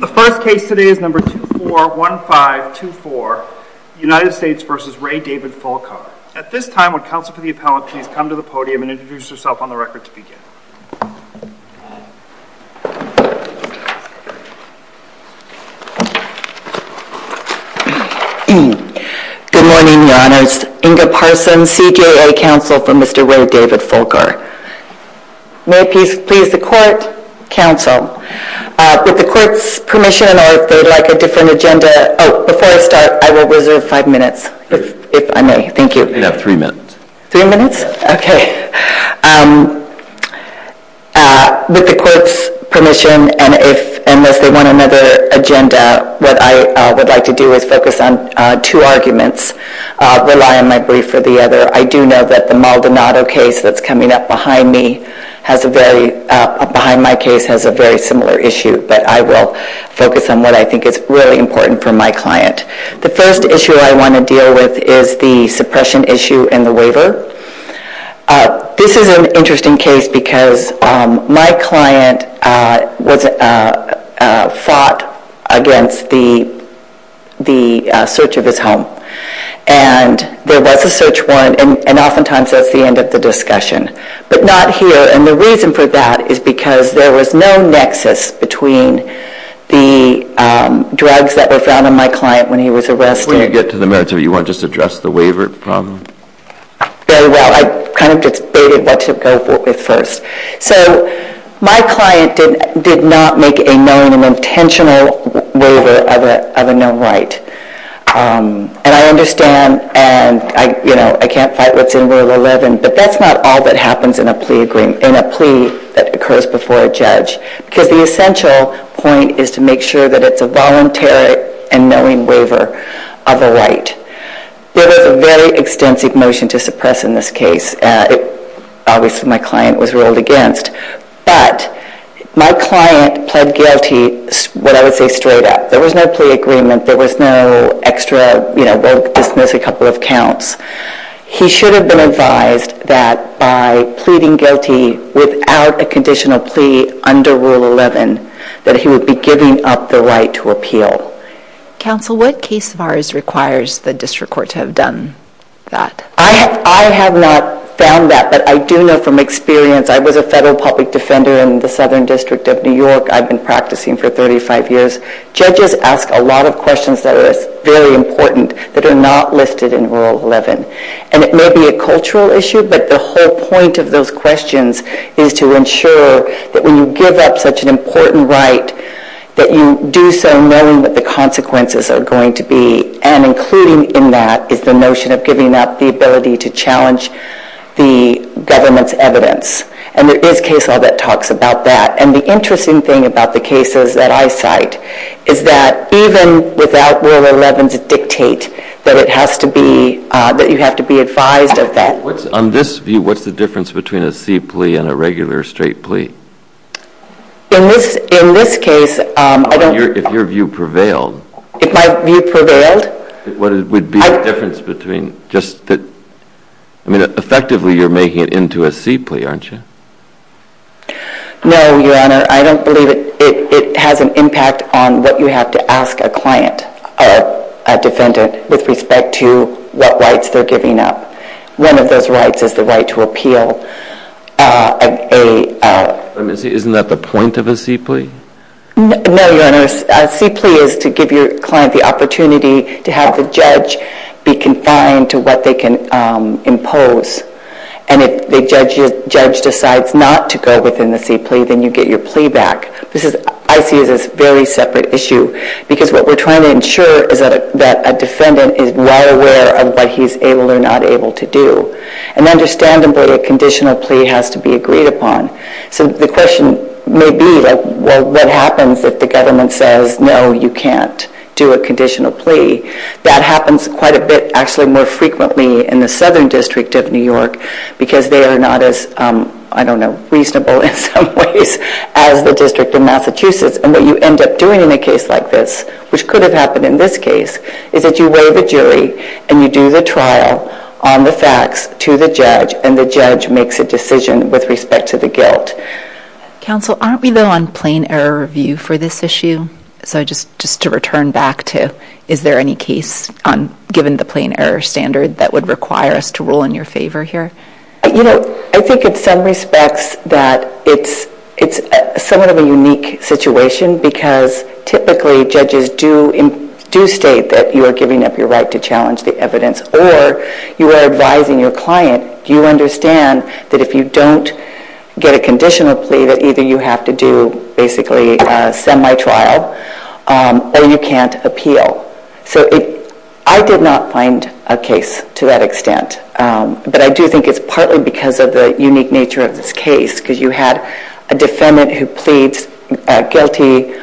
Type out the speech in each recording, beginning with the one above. The first case today is number 241524, United States v. Ray David Fulcar. At this time would counsel for the appellate please come to the podium and introduce yourself on the record to begin. Good morning, your honors. Inga Parsons, CJA counsel for Mr. Ray David Fulcar. May it please the court, counsel. With the court's permission and if they'd like a different agenda, oh before I start I will reserve five minutes if I may. Thank you. You have three minutes. Three minutes? Okay. With the court's permission and if unless they want another agenda what I would like to do is focus on two arguments, rely on my brief for the other. I do know that the Maldonado case that's coming up behind me has a very, behind my case has a very similar issue but I will focus on what I think is really important for my client. The first issue I want to deal with is the suppression issue in the waiver. This is an interesting case because my client fought against the search of his home and there was a search warrant and oftentimes that's the end of the discussion. But not here and the reason for that is because there was no nexus between the drugs that were found on my client when he was arrested. When you get to the merits of it you want to just address the waiver problem? Very well. I kind of debated what to go with first. So my client did not make a knowing and intentional waiver of a known right. And I understand and I can't fight what's in Rule 11 but that's not all that happens in a plea that occurs before a judge because the essential point is to make sure that it's a voluntary and knowing waiver of a right. There was a very extensive motion to suppress in this case. Obviously my client was ruled against but my client pled guilty what I would say straight up. There was no plea agreement. There was no extra, you know, we'll dismiss a couple of counts. He should have been advised that by pleading guilty without a conditional plea under Rule 11 that he would be giving up the right to appeal. Counsel what case of ours requires the district court to have done that? I have not found that but I do know from experience. I was a federal public defender in the Southern District of New York. I've been practicing for 35 years. Judges ask a lot of questions that are very important that are not listed in Rule 11. And it may be a cultural issue but the whole point of those questions is to ensure that when you give up such an important right that you do so knowing what the consequences are going to be and including in that is the notion of giving up the ability to challenge the government's evidence. And there is case law that talks about that. And the interesting thing about the cases that I cite is that even without Rule 11 to dictate that it has to be, that you have to be advised of that. On this view, what's the difference between a C plea and a regular straight plea? In this case, I don't... If your view prevailed. If my view prevailed? What would be the difference between just the... I mean effectively you're making it into a C plea, aren't you? No, Your Honor. I don't believe it has an impact on what you have to ask a client or a defendant with respect to what rights they're giving up. One of those rights is the right to appeal a... Isn't that the point of a C plea? No, Your Honor. A C plea is to give your client the opportunity to have the judge be confined to what they can impose. And if the judge decides not to go within the C plea, then you get your plea back. This is... I see it as a very separate issue because what we're trying to ensure is that a defendant is well aware of what he's able or not able to do. And understandably, a conditional plea has to be agreed upon. So the question may be, well, what happens if the government says, no, you can't do a conditional plea? That happens quite a bit, actually, more frequently in the Southern District of New York because they are not as, I don't know, reasonable in some ways as the District of Massachusetts. And what you end up doing in a case like this, which could have happened in this case, is that you weigh the jury and you do the trial on the facts to the judge and the judge makes a decision with respect to the guilt. Counsel, aren't we, though, on plain error review for this issue? So just to return back to, is there any case, given the plain error standard, that would require us to rule in your favor here? You know, I think in some respects that it's somewhat of a unique situation because typically judges do state that you are giving up your right to challenge the evidence or you are advising your client, do you understand that if you don't get a conditional plea that either you have to do, basically, a semi-trial or you can't appeal? So I did not find a case to that extent, but I do think it's partly because of the unique nature of this case because you had a defendant who pleads guilty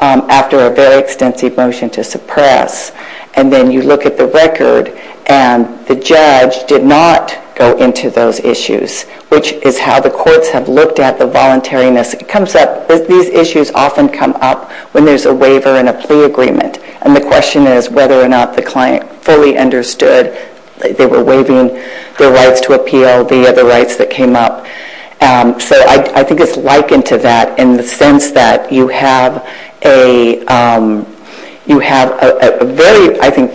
after a very extensive motion to suppress and then you look at the record and the judge did not go into those issues, which is how the courts have looked at the voluntariness. It comes up, these issues often come up when there's a waiver and a plea agreement and the question is whether or not the client fully understood that they were waiving their rights to appeal, the other rights that came up. So I think it's likened to that in the sense that you have a, you have a very strong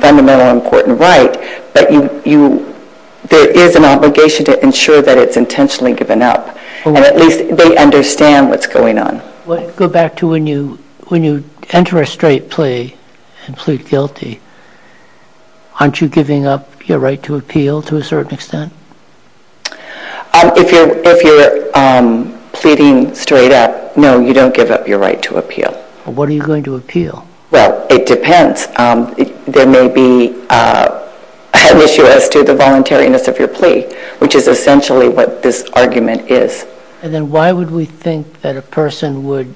fundamental and important right, but there is an obligation to ensure that it's intentionally given up and at least they understand what's going on. Go back to when you enter a straight plea and plead guilty, aren't you giving up your right to appeal to a certain extent? If you're pleading straight up, no, you don't give up your right to appeal. What are you going to appeal? Well, it depends. There may be an issue as to the voluntariness of your plea, which is essentially what this argument is. And then why would we think that a person would,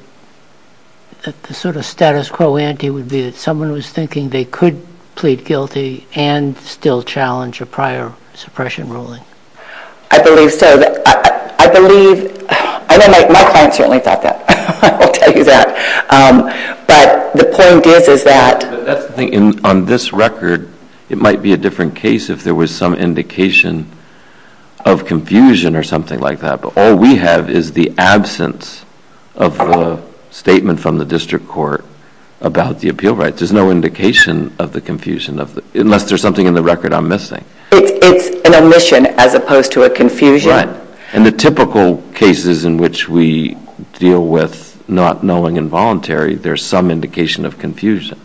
that the sort of status quo ante would be that someone was thinking they could plead guilty and still challenge a prior suppression ruling? I believe so. I believe, and my client certainly thought that, I will tell you that. But the point is, is that... On this record, it might be a different case if there was some indication of confusion or something like that. But all we have is the absence of a statement from the district court about the appeal rights. There's no indication of the confusion of the, unless there's something in the record I'm missing. It's an omission as opposed to a confusion. Right. And the typical cases in which we deal with not knowing involuntary, there's some indication of confusion.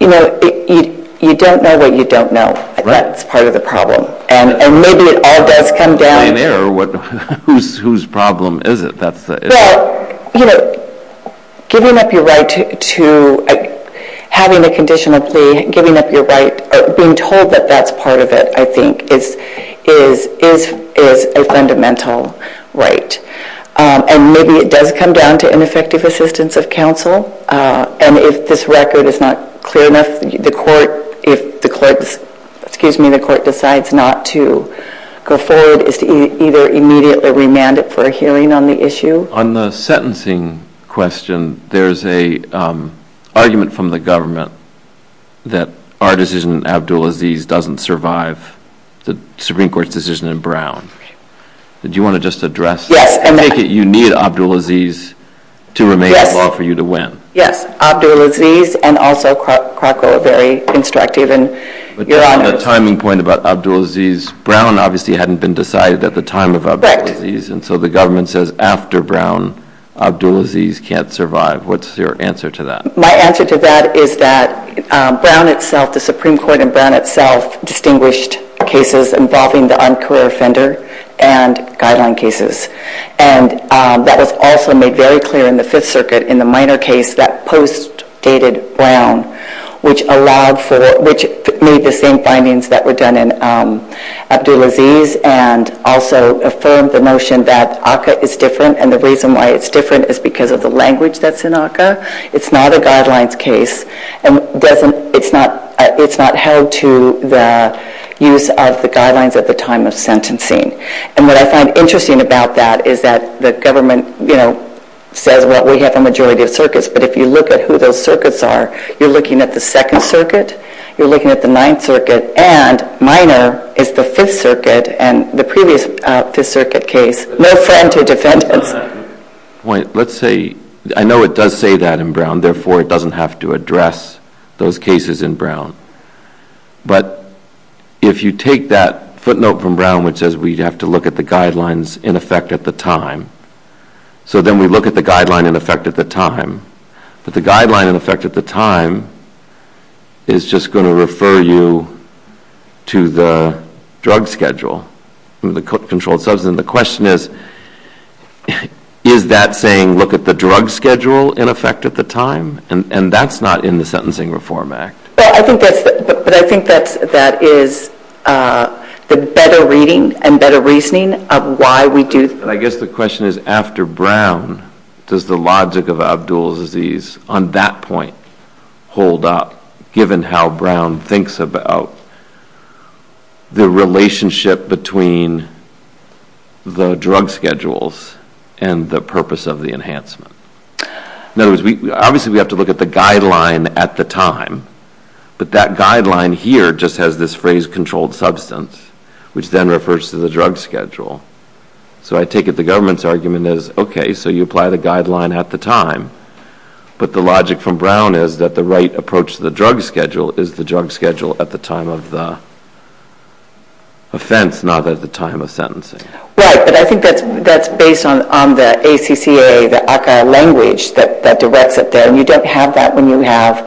You know, you don't know what you don't know. That's part of the problem. And maybe it all does come down to... By an error, whose problem is it? That's the issue. Well, you know, giving up your right to having a conditional plea, giving up your right, or being told that that's part of it, I think, is a fundamental right. And maybe it does come down to ineffective assistance of counsel. And if this record is not clear enough, the court decides not to go forward, is to either immediately remand it for a hearing on the issue. On the sentencing question, there's a argument from the government that our decision in Abdulaziz doesn't survive the Supreme Court's decision in Brown. Do you want to just address that? Yes. Because if you make it, you need Abdulaziz to remain in law for you to win. Yes. Abdulaziz and also Krakow are very constructive. But on the timing point about Abdulaziz, Brown obviously hadn't been decided at the time of Abdulaziz. Correct. And so the government says after Brown, Abdulaziz can't survive. What's your answer to that? My answer to that is that Brown itself, the Supreme Court in Brown itself, distinguished cases involving the un-career offender and guideline cases. And that was also made very clear in the Fifth Circuit in the minor case that post-dated Brown, which made the same findings that were done in Abdulaziz and also affirmed the notion that ACCA is different. And the reason why it's different is because of the language that's in ACCA. It's not a held to the use of the guidelines at the time of sentencing. And what I find interesting about that is that the government, you know, says, well, we have a majority of circuits. But if you look at who those circuits are, you're looking at the Second Circuit, you're looking at the Ninth Circuit, and minor is the Fifth Circuit. And the previous Fifth Circuit case, no friend to defendants. Let's say, I know it does say that in Brown, therefore it doesn't have to address those cases in Brown. But if you take that footnote from Brown which says we have to look at the guidelines in effect at the time, so then we look at the guideline in effect at the time. But the guideline in effect at the time is just going to refer you to the drug schedule, the controlled substance. And the question is, is that saying look at the drug schedule in effect at the time? And that's not in the Sentencing Reform Act. But I think that is the better reading and better reasoning of why we do. I guess the question is, after Brown, does the logic of Abdul's disease on that point hold up, given how Brown thinks about the relationship between the drug schedules and the purpose of the enhancement? In other words, obviously we have to look at the guideline at the time, but that guideline here just has this phrase, controlled substance, which then refers to the drug schedule. So I take it the government's argument is, okay, so you apply the guideline at the time. But the logic from Brown is that the right approach to the drug schedule is the drug schedule at the time of the offense, not at the time of sentencing. Right. But I think that's based on the ACCA, the ACCA language that directs it there. And you don't have that when you have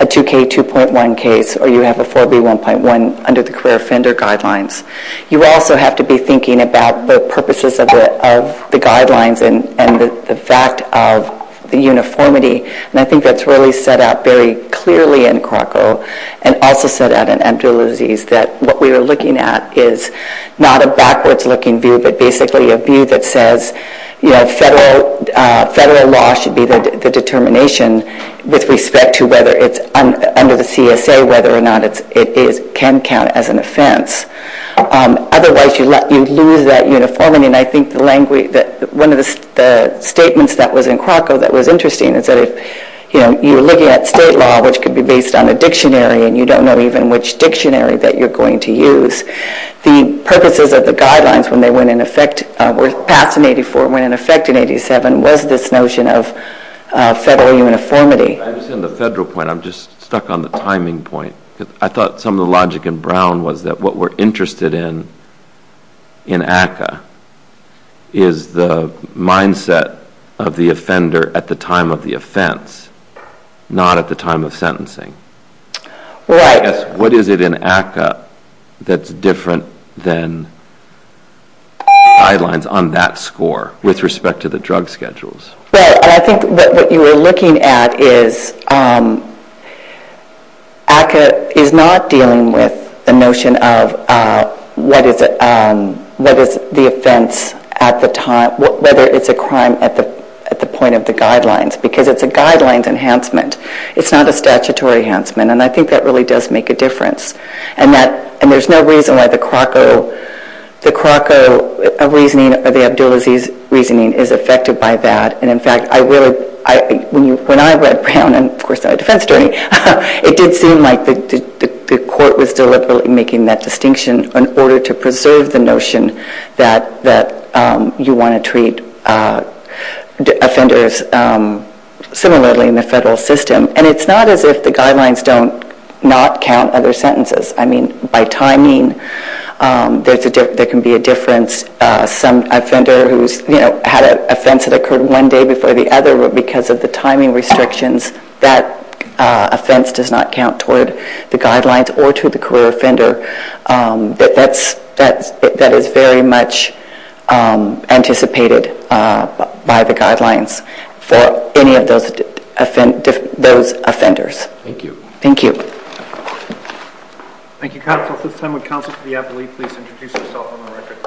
a 2K2.1 case or you have a 4B1.1 under the career offender guidelines. You also have to be thinking about the purposes of the guidelines and the fact of the uniformity. And I think that's really set out very clearly in Krakow and also set out in Abdul's disease, that what we are looking at is not a backwards-looking view, but basically a view that says, you know, federal law should be the determination with respect to whether it's under the CSA, whether or not it can count as an offense. Otherwise, you lose that uniformity. And I think one of the statements that was in Krakow that was interesting is that, you know, you're looking at state law, which could be based on a dictionary, and you don't know even which dictionary that you're going to use. The purposes of the guidelines when they went in effect, were passed in 84, went in effect in 87, was this notion of federal uniformity. I understand the federal point. I'm just stuck on the timing point. I thought some of the things that you were interested in, in ACCA, is the mindset of the offender at the time of the offense, not at the time of sentencing. Right. What is it in ACCA that's different than guidelines on that score with respect to the drug schedules? Well, I think what you were looking at is ACCA is not dealing with the notion of what is the offense at the time, whether it's a crime at the point of the guidelines, because it's a guidelines enhancement. It's not a statutory enhancement, and I think that really does make a difference. And there's no reason why the Krakow reasoning or the Abdulaziz reasoning is affected by that. And in fact, when I read Brown, and of course I'm a defense attorney, it did seem like the court was deliberately making that distinction in order to preserve the notion that you want to treat offenders similarly in the federal system. And it's not as if the guidelines do not count other sentences. I mean, by timing, there can be a difference. Some offender who's had an offense that occurred one day before the other, because of the timing restrictions, that offense does not count toward the guidelines or to the career offender. That is very much anticipated by the guidelines for any of those offenders. Thank you. Thank you. Thank you, counsel. At this time, would counsel for the appellee please introduce herself on the record.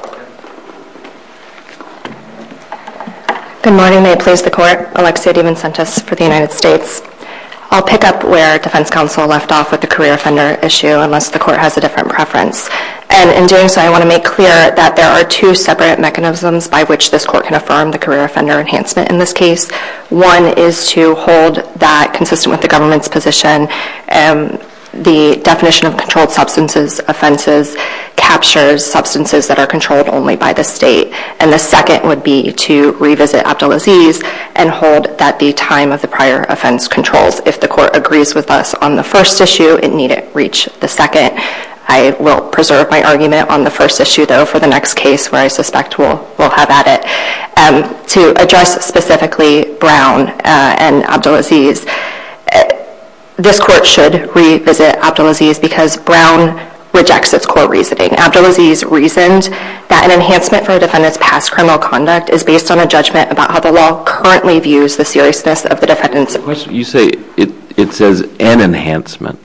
Good morning. May it please the court. Alexia DiVincentis for the United States. I'll pick up where defense counsel left off with the career offender issue, unless the court has a different preference. And in doing so, I want to make clear that there are two separate mechanisms by which this court can affirm the career offender enhancement in this case. One is to hold that, consistent with the government's position, the definition of controlled substances offenses captures substances that are controlled only by the state. And the second would be to revisit Abdulaziz and hold that the time of the prior offense controls. If the court agrees with us on the first issue, it needn't reach the second. I will preserve my argument on the first issue, though, for the next case where I suspect we'll have at it. To address specifically Brown and Abdulaziz, this court should revisit Abdulaziz because Brown rejects its core reasoning. Abdulaziz reasoned that an enhancement for a defendant's past criminal conduct is based on a judgment about how the law currently views the seriousness of the defendant's... You say it says an enhancement,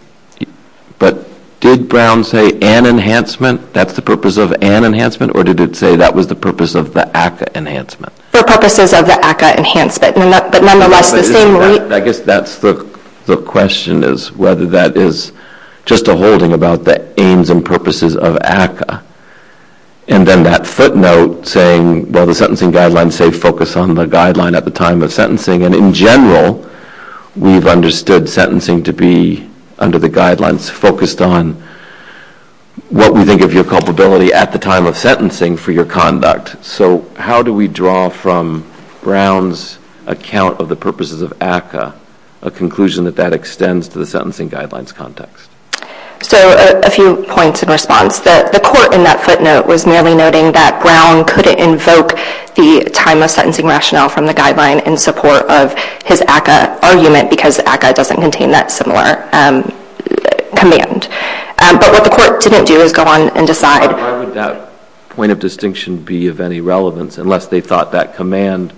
but did Brown say an enhancement, that's the purpose of an enhancement, or did it say that was the purpose of the ACCA enhancement? For purposes of the ACCA enhancement, but nonetheless the same... I guess that's the question is whether that is just a holding about the aims and purposes of ACCA. And then that footnote saying, well, the sentencing guidelines say focus on the guideline at the time of sentencing. And in general, we've understood sentencing to be, under the guidelines, focused on what we think of your culpability at the time of sentencing for your conduct. So how do we draw from Brown's account of the purposes of ACCA, a conclusion that that extends to the sentencing guidelines context? So a few points in response. The court in that footnote was merely noting that Brown couldn't invoke the time of sentencing rationale from the guideline in support of his ACCA argument because ACCA doesn't contain that similar command. But what the court didn't do is go on and decide... Why would that point of distinction be of any relevance unless they thought that command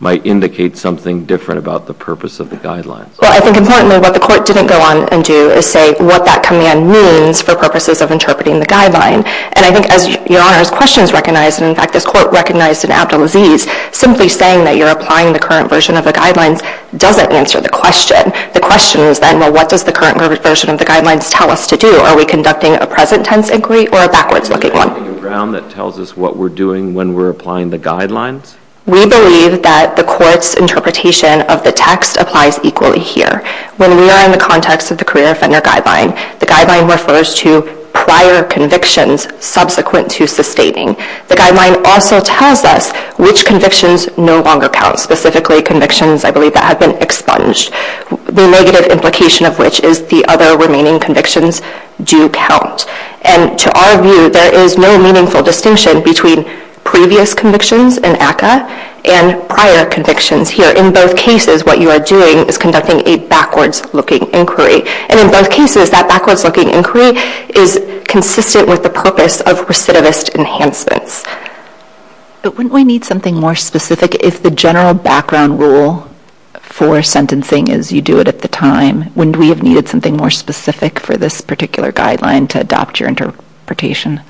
might indicate something different about the purpose of the guidelines? Well, I think importantly what the court didn't go on and do is say what that command means for purposes of interpreting the guideline. And I think as Your Honor's question is recognized, and in fact this court recognized in Abdulaziz, simply saying that you're applying the current version of the guidelines doesn't answer the question. The question is then, well, what does the current version of the guidelines tell us to do? Are we conducting a present tense inquiry or a backwards looking one? Is there something in Brown that tells us what we're doing when we're applying the guidelines? We believe that the court's interpretation of the text applies equally here. When we are in the context of the career offender guideline, the guideline refers to prior convictions subsequent to sustaining. The guideline also tells us which convictions no longer count, specifically convictions I believe that have been expunged. The negative implication of which is the other remaining convictions do count. And to our view, there is no meaningful distinction between previous convictions in ACCA and prior convictions here. In both cases, what you are doing is conducting a backwards looking inquiry. And in both cases, that backwards looking inquiry is consistent with the purpose of recidivist enhancements. But wouldn't we need something more specific? If the general background rule for sentencing is you do it at the time, wouldn't we have needed something more specific for this particular guideline to adopt your interpretation?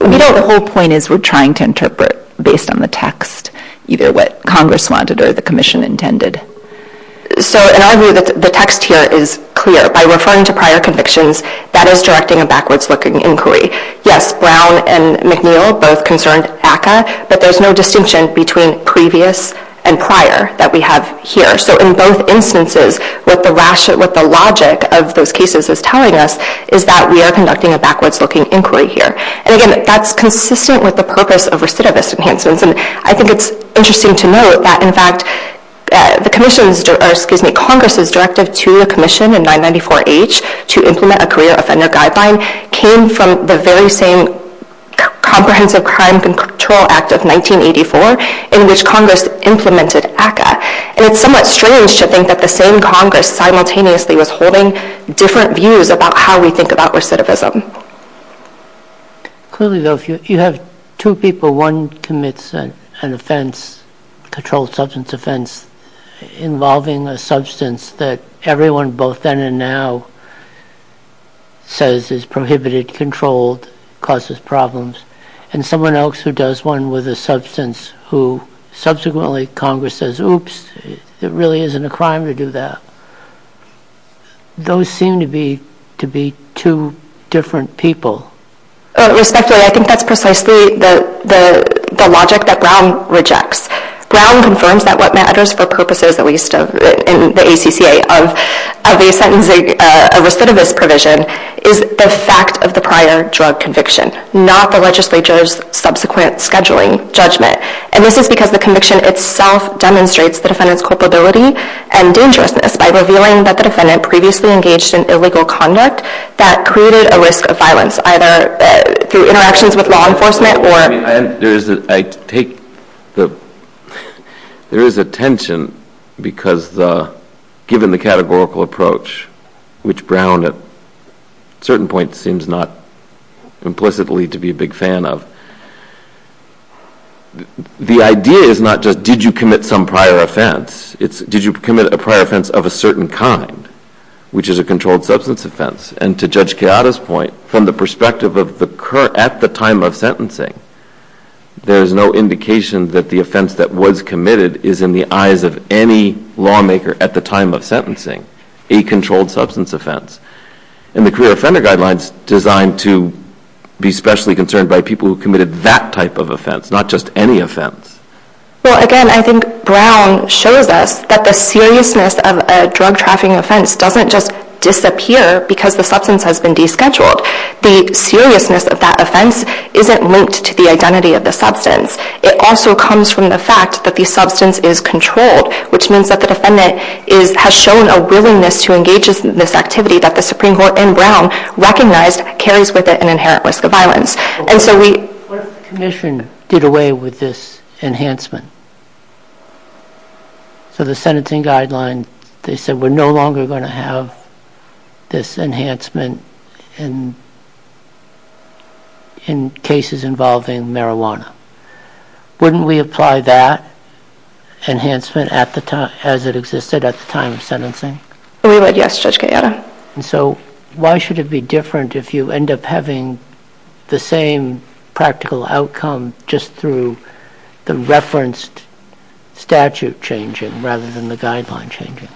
We don't. The whole point is we're trying to interpret based on the text, either what Congress wanted or the Commission intended. So in our view, the text here is clear. By referring to prior convictions, that is directing a backwards looking inquiry. Yes, Brown and McNeil both concerned ACCA, but there's no distinction between previous and prior that we have here. So in both instances, what the logic of those cases is telling us is that we are conducting a backwards looking inquiry here. And again, that's consistent with the purpose of recidivist enhancements. And I think it's interesting to note that in fact, Congress's directive to the Commission in 994H to implement a career offender guideline came from the very same Comprehensive Crime Control Act of 1984 in which Congress implemented ACCA. And it's somewhat strange to think that the same Congress simultaneously was holding different views about how we think about recidivism. Clearly, though, if you have two people, one commits an offense, a controlled substance offense, involving a substance that everyone both then and now says is prohibited, controlled, causes problems, and someone else who does one with a substance who subsequently Congress says, oops, it really isn't a crime to do that. Those seem to be two different people. Respectfully, I think that's precisely the logic that Brown rejects. Brown confirms that what matters for purposes, at least in the ACCA, of a sentencing recidivist provision is the fact of the prior drug conviction, not the legislature's subsequent scheduling judgment. And this is because the conviction itself demonstrates the defendant's culpability and dangerousness by revealing that the defendant previously engaged in illegal conduct that created a risk of violence either through interactions with law enforcement or There is a tension because given the categorical approach, which Brown at certain points seems not implicitly to be a big fan of, the idea is not just did you commit some prior offense, it's did you commit a prior offense of a certain kind, which is a controlled substance offense. And to Judge Keada's point, from the perspective at the time of sentencing, there is no indication that the offense that was committed is in the eyes of any lawmaker at the time of sentencing a controlled substance offense. And the career offender guideline is designed to be specially concerned by people who committed that type of offense, not just any offense. Well, again, I think Brown shows us that the seriousness of a drug trafficking offense doesn't just disappear because the substance has been descheduled. The seriousness of that offense isn't linked to the identity of the substance. It also comes from the fact that the substance is controlled, which means that the defendant has shown a willingness to engage in this activity that the Supreme Court in Brown recognized carries with it an inherent risk of violence. What if the commission did away with this enhancement? So the sentencing guideline, they said, we're no longer going to have this enhancement in cases involving marijuana. Wouldn't we apply that enhancement as it existed at the time of sentencing? We would, yes, Judge Keada. So why should it be different if you end up having the same practical outcome just through the referenced statute changing rather than the guideline changing?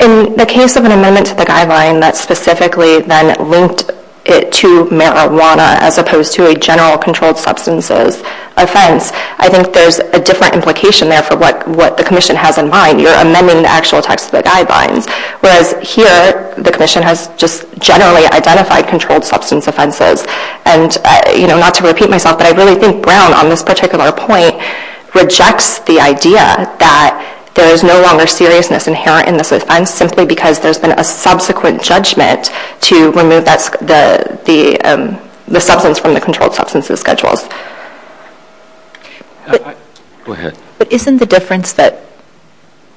In the case of an amendment to the guideline that specifically then linked it to marijuana as opposed to a general controlled substances offense, I think there's a different implication there for what the commission has in mind. You're amending the actual text of the guidelines, whereas here the commission has just generally identified controlled substance offenses. Not to repeat myself, but I really think Brown on this particular point rejects the idea that there is no longer seriousness inherent in this offense simply because there's been a subsequent judgment to remove the substance from the controlled substances schedules. But isn't the difference that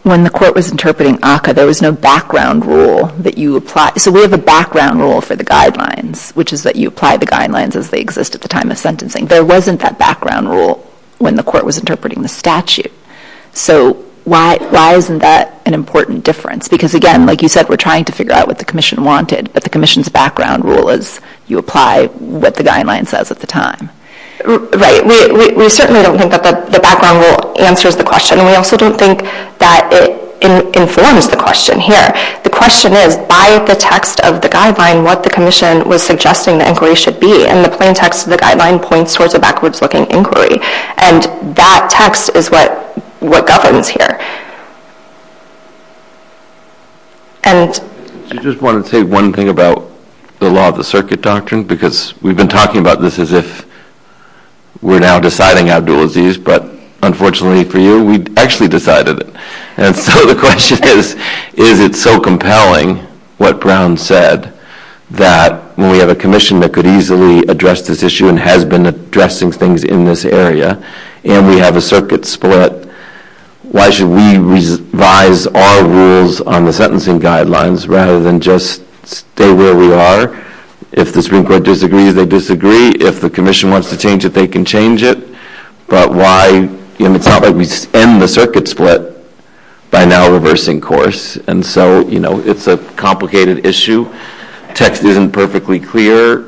when the court was interpreting ACCA, there was no background rule that you applied? So we have a background rule for the guidelines, which is that you apply the guidelines as they exist at the time of sentencing. There wasn't that background rule when the court was interpreting the statute. So why isn't that an important difference? Because, again, like you said, we're trying to figure out what the commission wanted, but the commission's background rule is you apply what the guideline says at the time. Right. We certainly don't think that the background rule answers the question, and we also don't think that it informs the question here. The question is, by the text of the guideline, what the commission was suggesting the inquiry should be, and the plain text of the guideline points towards a backwards-looking inquiry, and that text is what governs here. I just wanted to say one thing about the law of the circuit doctrine because we've been talking about this as if we're now deciding how to do a disease, but unfortunately for you, we actually decided it. So the question is, is it so compelling what Brown said that when we have a commission that could easily address this issue and has been addressing things in this area, and we have a circuit split, why should we revise our rules on the sentencing guidelines rather than just stay where we are? If the Supreme Court disagrees, they disagree. If the commission wants to change it, they can change it. It's not like we end the circuit split by now reversing course, and so it's a complicated issue. The text isn't perfectly clear.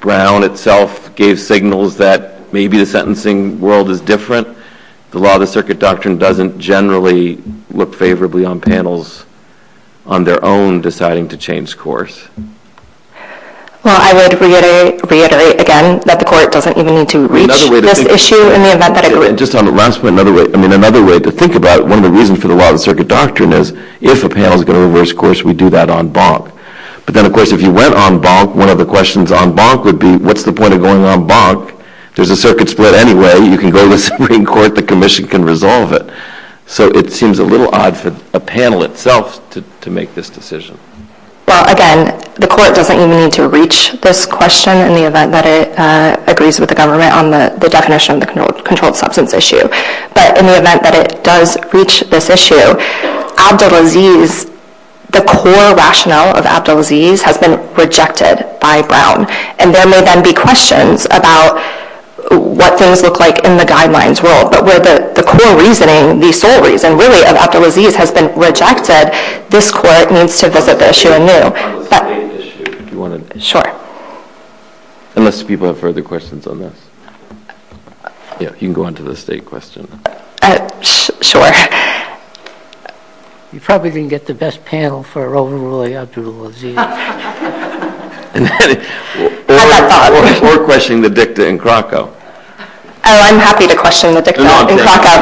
Brown itself gave signals that maybe the sentencing world is different. The law of the circuit doctrine doesn't generally look favorably on panels on their own deciding to change course. Well, I would reiterate again that the court doesn't even need to reach this issue in the event that it would. Just on the last point, another way to think about it, one of the reasons for the law of the circuit doctrine is if a panel is going to reverse course, we do that on bonk. But then, of course, if you went on bonk, one of the questions on bonk would be what's the point of going on bonk? There's a circuit split anyway. You can go to the Supreme Court. The commission can resolve it. So it seems a little odd for a panel itself to make this decision. Well, again, the court doesn't even need to reach this question in the event that it agrees with the government on the definition of the controlled substance issue. But in the event that it does reach this issue, Abdulaziz, the core rationale of Abdulaziz has been rejected by Brown, and there may then be questions about what things look like in the guidelines world. But where the core reasoning, the sole reason really of Abdulaziz has been rejected, is that this court needs to visit the issue anew. Sure. Unless people have further questions on this. Yeah, you can go on to the state question. Sure. You probably didn't get the best panel for overruling Abdulaziz. Or questioning the dicta in Krakow. Oh, I'm happy to question the dicta in Krakow.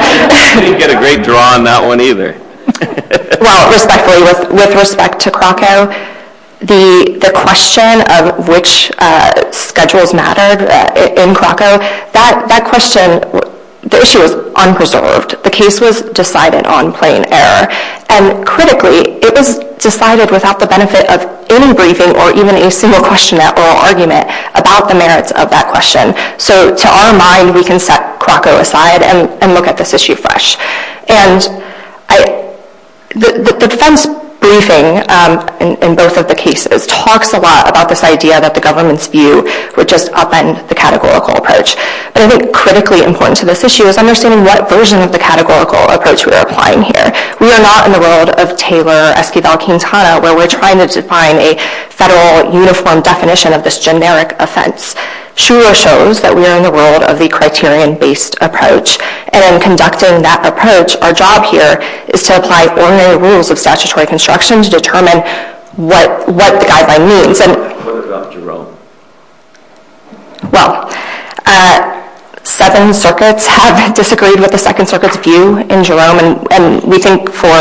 You didn't get a great draw on that one either. Well, respectfully, with respect to Krakow, the question of which schedules mattered in Krakow, that question, the issue was unresolved. The case was decided on plain error. And critically, it was decided without the benefit of any briefing or even a single question or argument about the merits of that question. So to our mind, we can set Krakow aside and look at this issue fresh. And the defense briefing in both of the cases talks a lot about this idea that the government's view would just upend the categorical approach. But I think critically important to this issue is understanding what version of the categorical approach we are applying here. We are not in the world of Taylor, Esquivel, Quintana, where we're trying to define a federal uniform definition of this generic offense. Shura shows that we are in the world of the criterion-based approach. And in conducting that approach, our job here is to apply ordinary rules of statutory construction to determine what the guideline means. What about Jerome? Well, Seven Circuits have disagreed with the Second Circuit's view in Jerome, and we think for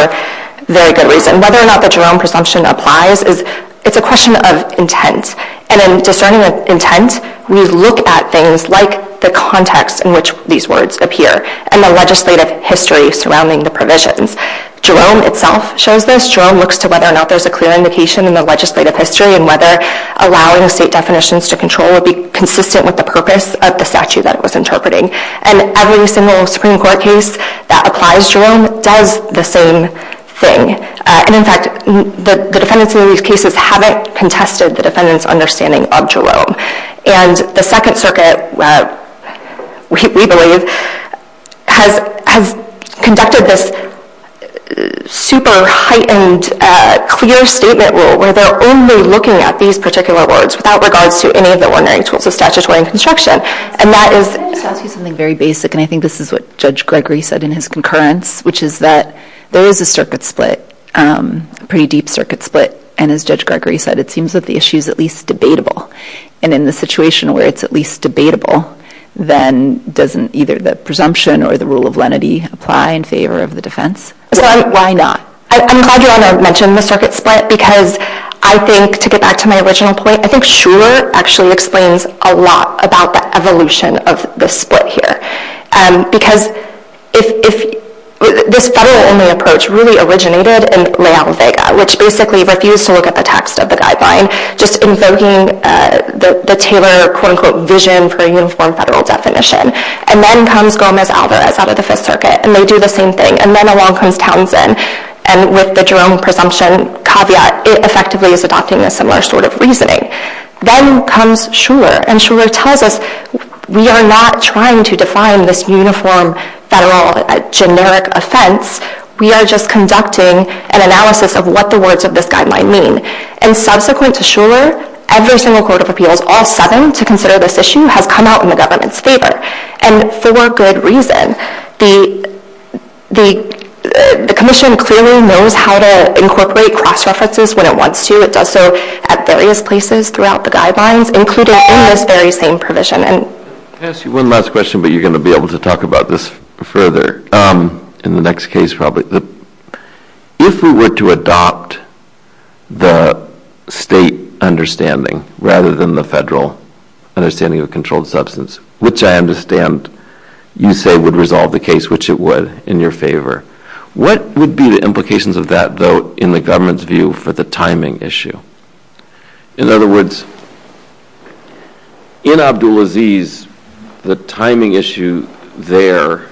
very good reason. Whether or not the Jerome presumption applies is a question of intent. And in discerning intent, we look at things like the context in which these words appear and the legislative history surrounding the provisions. Jerome itself shows this. Jerome looks to whether or not there's a clear indication in the legislative history and whether allowing state definitions to control would be consistent with the purpose of the statute that it was interpreting. And every single Supreme Court case that applies Jerome does the same thing. And in fact, the defendants in these cases haven't contested the defendants' understanding of Jerome. And the Second Circuit, we believe, has conducted this super-heightened, clear statement rule where they're only looking at these particular words without regards to any of the ordinary tools of statutory construction. And that is... Let me just ask you something very basic, and I think this is what Judge Gregory said in his concurrence, which is that there is a circuit split, a pretty deep circuit split. And as Judge Gregory said, it seems that the issue is at least debatable. And in the situation where it's at least debatable, then doesn't either the presumption or the rule of lenity apply in favor of the defense? Why not? I'm glad you want to mention the circuit split because I think, to get back to my original point, I think Schreuer actually explains a lot about the evolution of the split here. Because this federal-only approach really originated in Leal-Vega, which basically refused to look at the text of the guideline, just invoking the Taylor, quote-unquote, vision for a uniform federal definition. And then comes Gomez-Alvarez out of the Fifth Circuit, and they do the same thing. And then along comes Townsend, and with the Jerome presumption caveat, it effectively is adopting a similar sort of reasoning. Then comes Schreuer, and Schreuer tells us, we are not trying to define this uniform federal generic offense. We are just conducting an analysis of what the words of this guideline mean. And subsequent to Schreuer, every single court of appeals all sudden to consider this issue has come out in the government's favor. And for good reason. The commission clearly knows how to incorporate cross-references when it wants to. It does so at various places throughout the guidelines, including in this very same provision. I'm going to ask you one last question, but you're going to be able to talk about this further in the next case probably. If we were to adopt the state understanding rather than the federal understanding of a controlled substance, which I understand you say would resolve the case, which it would, in your favor, what would be the implications of that vote in the government's view for the timing issue? In other words, in Abdulaziz, the timing issue there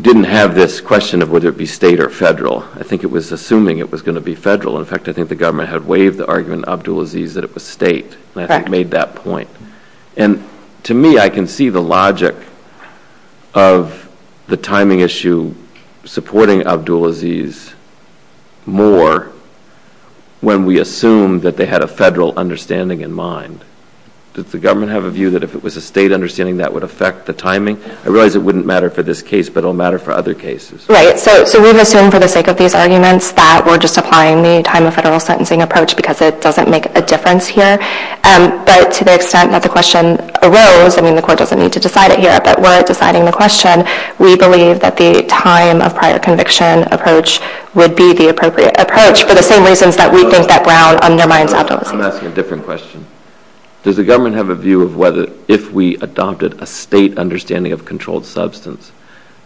didn't have this question of whether it be state or federal. I think it was assuming it was going to be federal. In fact, I think the government had waived the argument in Abdulaziz that it was state, and I think it made that point. And to me, I can see the logic of the timing issue supporting Abdulaziz more when we assume that they had a federal understanding in mind. Does the government have a view that if it was a state understanding, that would affect the timing? I realize it wouldn't matter for this case, but it will matter for other cases. Right. So we've assumed for the sake of these arguments that we're just applying the time of federal sentencing approach because it doesn't make a difference here. But to the extent that the question arose, I mean, the court doesn't need to decide it here, but we're deciding the question, and we believe that the time of prior conviction approach would be the appropriate approach for the same reasons that we think that Brown undermines Abdulaziz. I'm asking a different question. Does the government have a view of whether if we adopted a state understanding of controlled substance,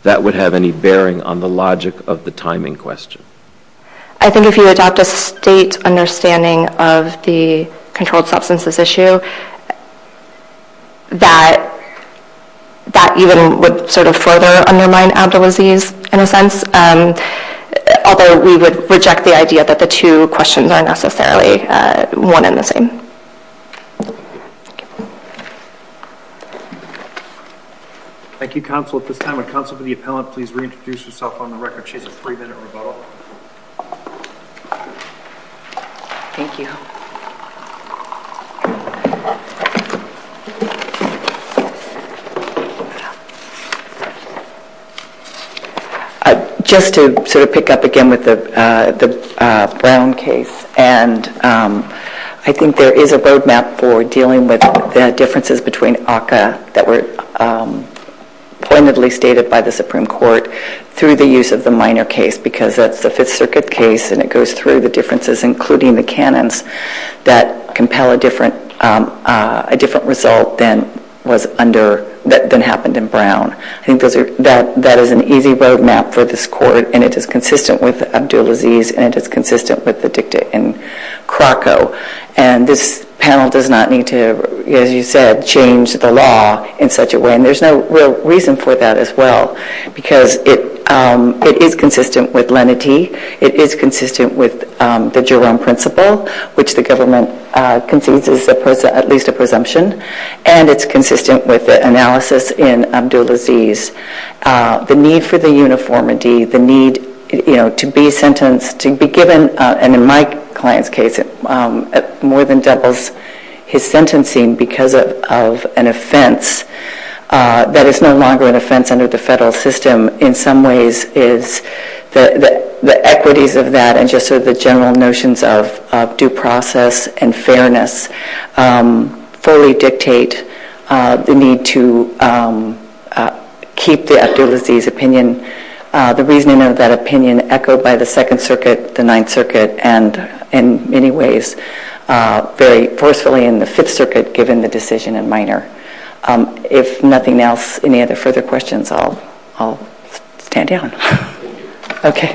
that would have any bearing on the logic of the timing question? I think if you adopt a state understanding of the controlled substances issue, that even would sort of further undermine Abdulaziz in a sense, although we would reject the idea that the two questions aren't necessarily one and the same. Thank you, counsel. At this time, would counsel for the appellant please reintroduce herself on the record? She has a three-minute rebuttal. Thank you. Just to sort of pick up again with the Brown case, and I think there is a roadmap for dealing with the differences between ACCA that were pointedly stated by the Supreme Court through the use of the minor case, because that's the Fifth Circuit case, and it goes through the differences, including the canons that compel a different approach and a different result than happened in Brown. I think that is an easy roadmap for this Court, and it is consistent with Abdulaziz, and it is consistent with the dicta in Krakow. And this panel does not need to, as you said, change the law in such a way, and there's no real reason for that as well, because it is consistent with lenity. It is consistent with the Jerome principle, which the government concedes is at least a presumption, and it's consistent with the analysis in Abdulaziz. The need for the uniformity, the need to be sentenced, to be given, and in my client's case, more than doubles his sentencing because of an offense that is no longer an offense under the federal system in some ways is the equities of that and just sort of the general notions of due process and fairness fully dictate the need to keep the Abdulaziz opinion. The reasoning of that opinion echoed by the Second Circuit, the Ninth Circuit, and in many ways, very forcefully in the Fifth Circuit, given the decision in Minor. If nothing else, any other further questions, I'll stand down. Okay.